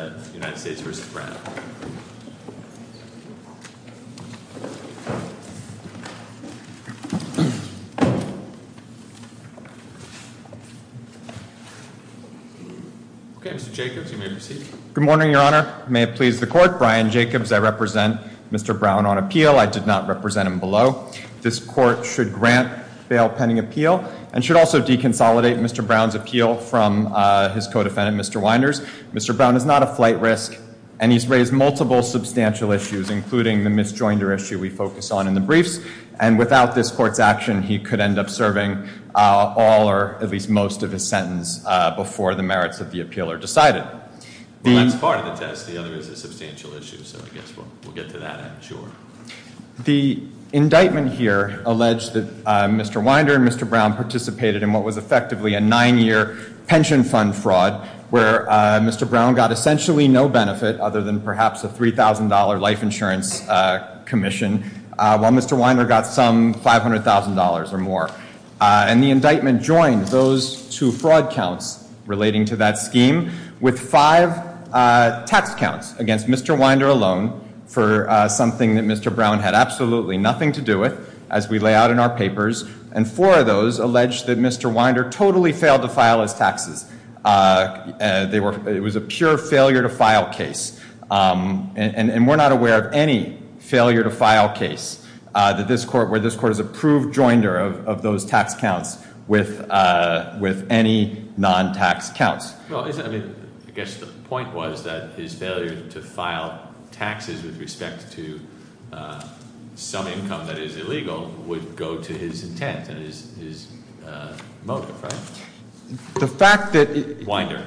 Good morning, Your Honor. May it please the Court. Brian Jacobs. I represent Mr. Brown on appeal. I did not represent him below. This Court should grant bail pending appeal and should also deconsolidate Mr. Brown's appeal from his co-defendant, Mr. Wynder. Mr. Brown is not a flight risk, and he's raised multiple substantial issues, including the Miss Joinder issue we focus on in the briefs. And without this Court's action, he could end up serving all or at least most of his sentence before the merits of the appeal are decided. Well, that's part of the test. The other is a substantial issue, so I guess we'll get to that end, sure. The indictment here alleged that Mr. Wynder and Mr. Brown participated in what was effectively a nine-year pension fund fraud where Mr. Brown got essentially no benefit other than perhaps a $3,000 life insurance commission, while Mr. Wynder got some $500,000 or more. And the indictment joins those two fraud counts relating to that scheme with five tax counts against Mr. Wynder alone for something that Mr. Brown had absolutely nothing to do with as we lay out in our papers. And four of those allege that Mr. Wynder totally failed to file his taxes. It was a pure failure-to-file case. And we're not aware of any failure-to-file case where this Court has approved Joinder of those tax counts with any non-tax counts. Well, I guess the point was that his failure to file taxes with respect to some income that is illegal would go to his intent and his motive, right? The fact that- Wynder.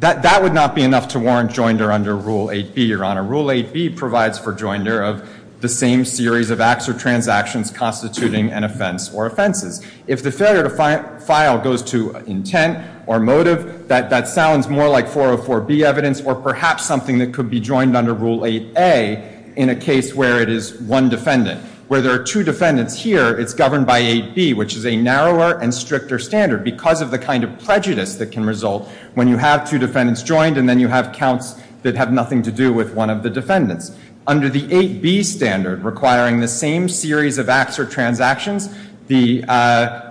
That would not be enough to warrant Joinder under Rule 8B, Your Honor. Rule 8B provides for Joinder of the same series of acts or transactions constituting an offense or offenses. If the failure-to-file goes to intent or motive, that sounds more like 404B evidence or perhaps something that could be joined under Rule 8A in a case where it is one defendant. Where there are two defendants here, it's governed by 8B, which is a narrower and stricter standard because of the kind of prejudice that can result when you have two defendants joined and then you have counts that have nothing to do with one of the defendants. Under the 8B standard requiring the same series of acts or transactions, the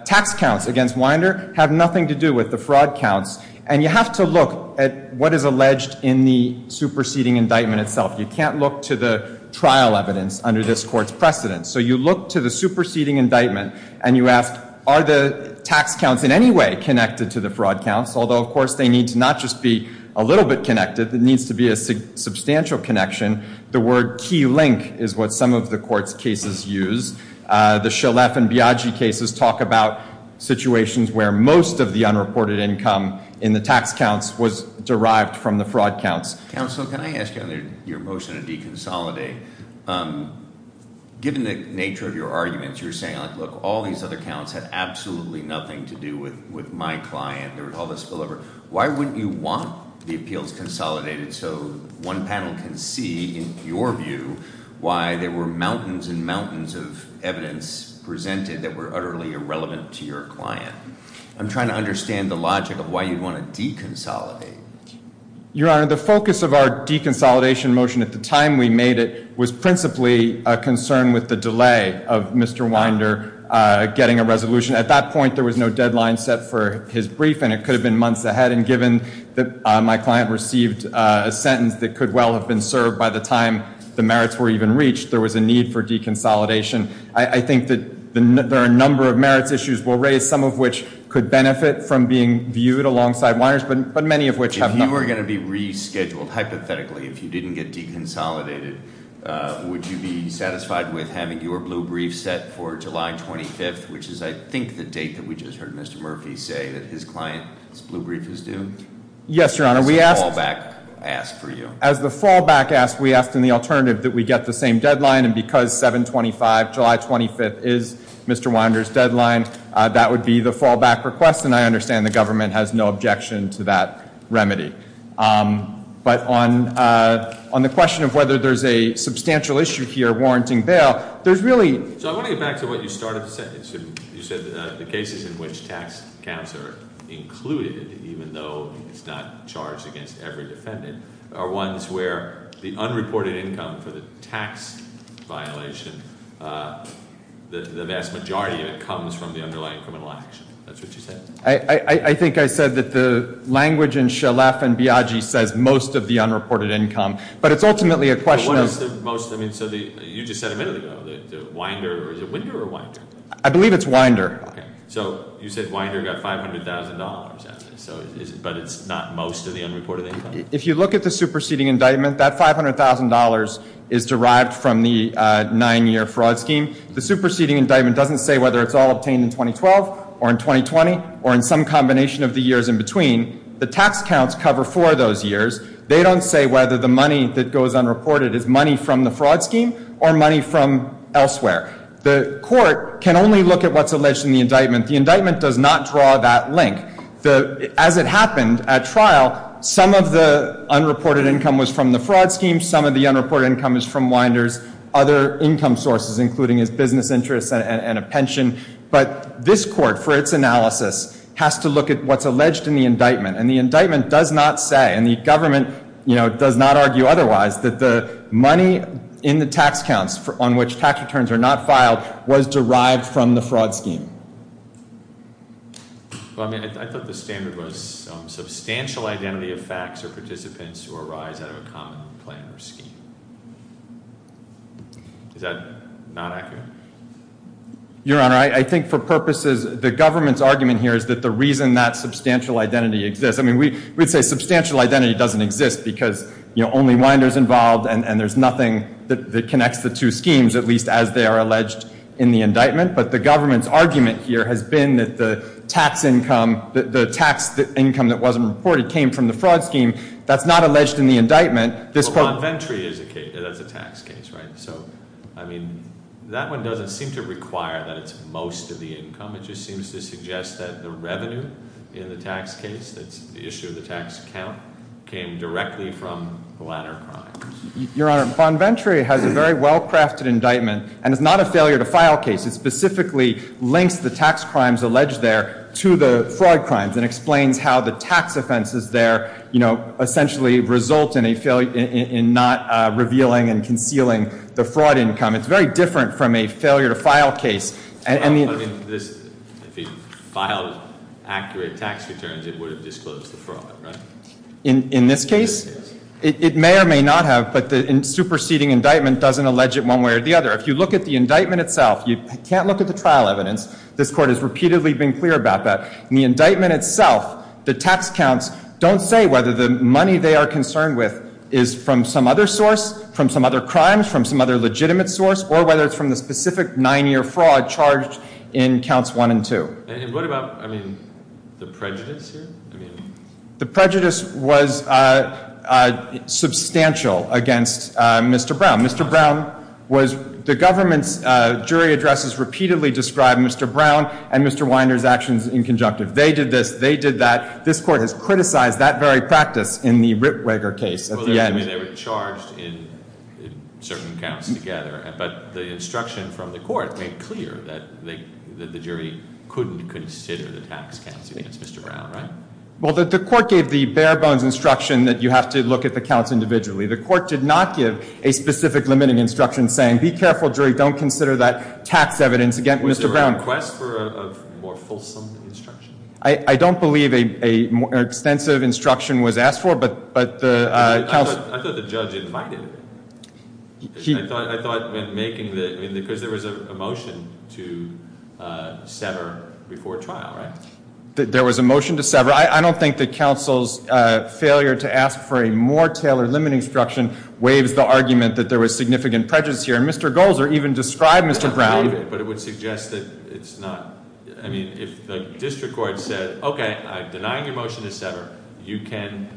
tax counts against Wynder have nothing to do with the fraud counts. And you have to look at what is alleged in the superseding indictment itself. You can't look to the trial evidence under this Court's precedence. So you look to the superseding indictment and you ask, are the tax counts in any way connected to the fraud counts? Although, of course, they need to not just be a little bit connected. There needs to be a substantial connection. The word key link is what some of the Court's cases use. The Shalef and Biagi cases talk about situations where most of the unreported income in the tax counts was derived from the fraud counts. Counsel, can I ask you on your motion to deconsolidate, given the nature of your arguments, you're saying like, look, all these other counts had absolutely nothing to do with my client, there was all this spillover. Why wouldn't you want the appeals consolidated so one panel can see, in your view, why there were mountains and mountains of evidence presented that were utterly irrelevant to your client? I'm trying to understand the logic of why you'd want to deconsolidate. Your Honor, the focus of our deconsolidation motion at the time we made it was principally a concern with the delay of Mr. Wynder getting a resolution. At that point, there was no deadline set for his brief and it could have been months ahead. And given that my client received a sentence that could well have been served by the time the merits were even reached, there was a need for deconsolidation. I think that there are a number of merits issues we'll raise, some of which could benefit from being viewed alongside Wynder's, but many of which have not. If you were going to be rescheduled, hypothetically, if you didn't get deconsolidated, would you be satisfied with having your blue brief set for July 25th, which is I think the date that we just heard Mr. Murphy say that his client's blue brief is due? Yes, Your Honor. We asked- As the fallback asked for you. As the fallback asked, we asked in the alternative that we get the same deadline. And because 7-25, July 25th is Mr. Wynder's deadline, that would be the fallback request. And I understand the government has no objection to that remedy. But on the question of whether there's a substantial issue here warranting bail, there's really- So I want to get back to what you started to say. You said that the cases in which tax caps are included, even though it's not charged against every defendant, are ones where the unreported income for the tax violation, the vast majority of it comes from the underlying criminal action, that's what you said. I think I said that the language in Shalef and Biagi says most of the unreported income, but it's ultimately a question of- But what is the most, I mean, so you just said a minute ago that Wynder, is it Wynder or Wynder? I believe it's Wynder. So you said Wynder got $500,000, but it's not most of the unreported income? If you look at the superseding indictment, that $500,000 is derived from the nine year fraud scheme. The superseding indictment doesn't say whether it's all obtained in 2012, or in 2020, or in some combination of the years in between. The tax counts cover for those years. They don't say whether the money that goes unreported is money from the fraud scheme or money from elsewhere. The court can only look at what's alleged in the indictment. The indictment does not draw that link. As it happened at trial, some of the unreported income was from the fraud scheme, some of the unreported income is from Wynder's other income sources, including his business interests and a pension. But this court, for its analysis, has to look at what's alleged in the indictment. And the indictment does not say, and the government does not argue otherwise, that the money in the tax counts on which tax returns are not filed was derived from the fraud scheme. I thought the standard was substantial identity of facts or participants who arise out of a common plan or scheme. Is that not accurate? Your Honor, I think for purposes, the government's argument here is that the reason that substantial identity exists. I mean, we'd say substantial identity doesn't exist because only Wynder's involved and there's nothing that connects the two schemes, at least as they are alleged in the indictment. But the government's argument here has been that the tax income that wasn't reported came from the fraud scheme. That's not alleged in the indictment. This court- Well, Montventry is a case, that's a tax case, right? And so, I mean, that one doesn't seem to require that it's most of the income. It just seems to suggest that the revenue in the tax case, that's the issue of the tax account, came directly from the latter crime. Your Honor, Montventry has a very well-crafted indictment, and it's not a failure to file case. It specifically links the tax crimes alleged there to the fraud crimes and explains how the tax offenses there essentially result in a failure, in not revealing and concealing the fraud income. It's very different from a failure to file case. And the- But I mean, if he filed accurate tax returns, it would have disclosed the fraud, right? In this case? It may or may not have, but the superseding indictment doesn't allege it one way or the other. If you look at the indictment itself, you can't look at the trial evidence. This court has repeatedly been clear about that. The indictment itself, the tax counts, don't say whether the money they are concerned with is from some other source, from some other crimes, from some other legitimate source, or whether it's from the specific nine-year fraud charged in counts one and two. And what about, I mean, the prejudice here? The prejudice was substantial against Mr. Brown. Mr. Brown was, the government's jury addresses repeatedly describe Mr. Brown and Mr. Weiner's actions in conjunctive. They did this, they did that. This court has criticized that very practice in the Rittweger case at the end. Well, they were charged in certain counts together, but the instruction from the court made clear that the jury couldn't consider the tax counts against Mr. Brown, right? Well, the court gave the bare bones instruction that you have to look at the counts individually. The court did not give a specific limited instruction saying, be careful jury, don't consider that tax evidence against Mr. Brown. Was there a request for a more fulsome instruction? I don't believe an extensive instruction was asked for, but the- I thought the judge invited it. I thought when making the, because there was a motion to sever before trial, right? There was a motion to sever. So, I don't think the council's failure to ask for a more tailored limited instruction waives the argument that there was significant prejudice here, and Mr. Golzer even described Mr. Brown. I believe it, but it would suggest that it's not. I mean, if the district court said, okay, I'm denying your motion to sever. You can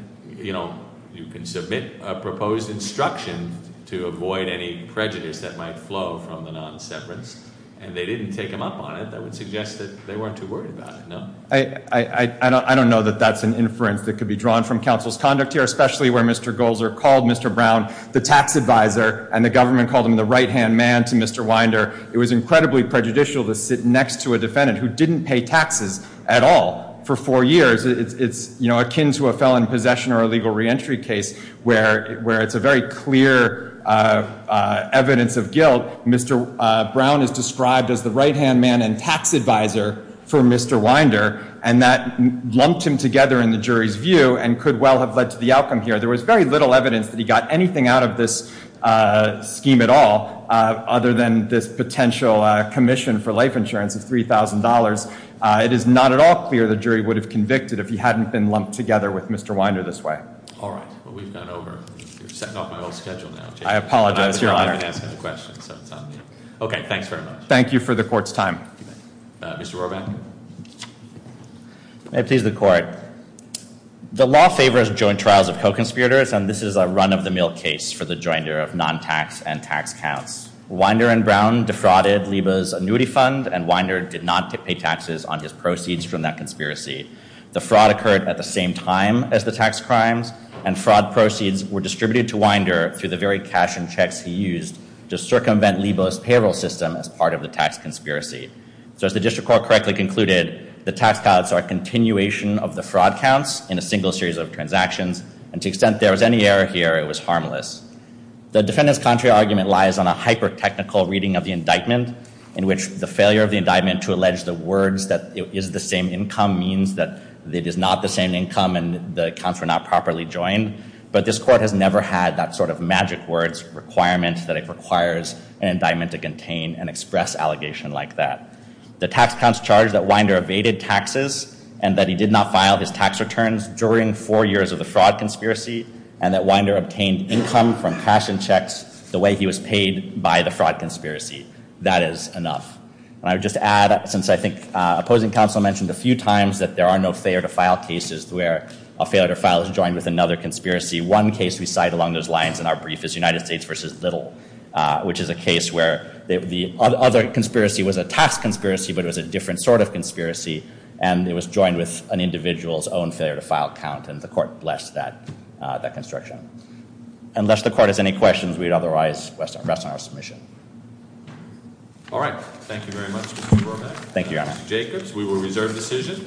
submit a proposed instruction to avoid any prejudice that might flow from the non-severance. And they didn't take them up on it, that would suggest that they weren't too worried about it, no? I don't know that that's an inference that could be drawn from council's conduct here, especially where Mr. Golzer called Mr. Brown the tax advisor, and the government called him the right-hand man to Mr. Winder. It was incredibly prejudicial to sit next to a defendant who didn't pay taxes at all for four years. It's, you know, akin to a felon possession or a legal reentry case where it's a very clear evidence of guilt. Mr. Brown is described as the right-hand man and tax advisor for Mr. Winder. And that lumped him together in the jury's view and could well have led to the outcome here. There was very little evidence that he got anything out of this scheme at all, other than this potential commission for life insurance of $3,000. It is not at all clear the jury would have convicted if he hadn't been lumped together with Mr. Winder this way. All right, well, we've gone over, you're setting off my whole schedule now. I apologize, Your Honor. I've been asking the questions, so it's on you. Okay, thanks very much. Thank you for the court's time. Mr. Roeback. May it please the court. The law favors joint trials of co-conspirators, and this is a run of the mill case for the joiner of non-tax and tax counts. Winder and Brown defrauded Liba's annuity fund, and Winder did not pay taxes on his proceeds from that conspiracy. The fraud occurred at the same time as the tax crimes, and fraud proceeds were distributed to Winder through the very cash and checks he used to circumvent Liba's payroll system as part of the tax conspiracy. So as the district court correctly concluded, the tax counts are a continuation of the fraud counts in a single series of transactions, and to the extent there was any error here, it was harmless. The defendant's contrary argument lies on a hyper-technical reading of the indictment, in which the failure of the indictment to allege the words that it is the same income means that it is not the same income and the accounts were not properly joined. But this court has never had that sort of magic words requirement that it requires an indictment to contain an express allegation like that. The tax counts charge that Winder evaded taxes, and that he did not file his tax returns during four years of the fraud conspiracy, and that Winder obtained income from cash and checks the way he was paid by the fraud conspiracy. That is enough. And I would just add, since I think opposing counsel mentioned a few times that there are no failure to file cases where a failure to file is joined with another conspiracy. One case we cite along those lines in our brief is United States versus Little, which is a case where the other conspiracy was a tax conspiracy, but it was a different sort of conspiracy. And it was joined with an individual's own failure to file count, and the court blessed that construction. Unless the court has any questions, we'd otherwise rest on our submission. All right. Thank you very much, Mr. Bromack. Thank you, Your Honor. Mr. Jacobs, we will reserve decision.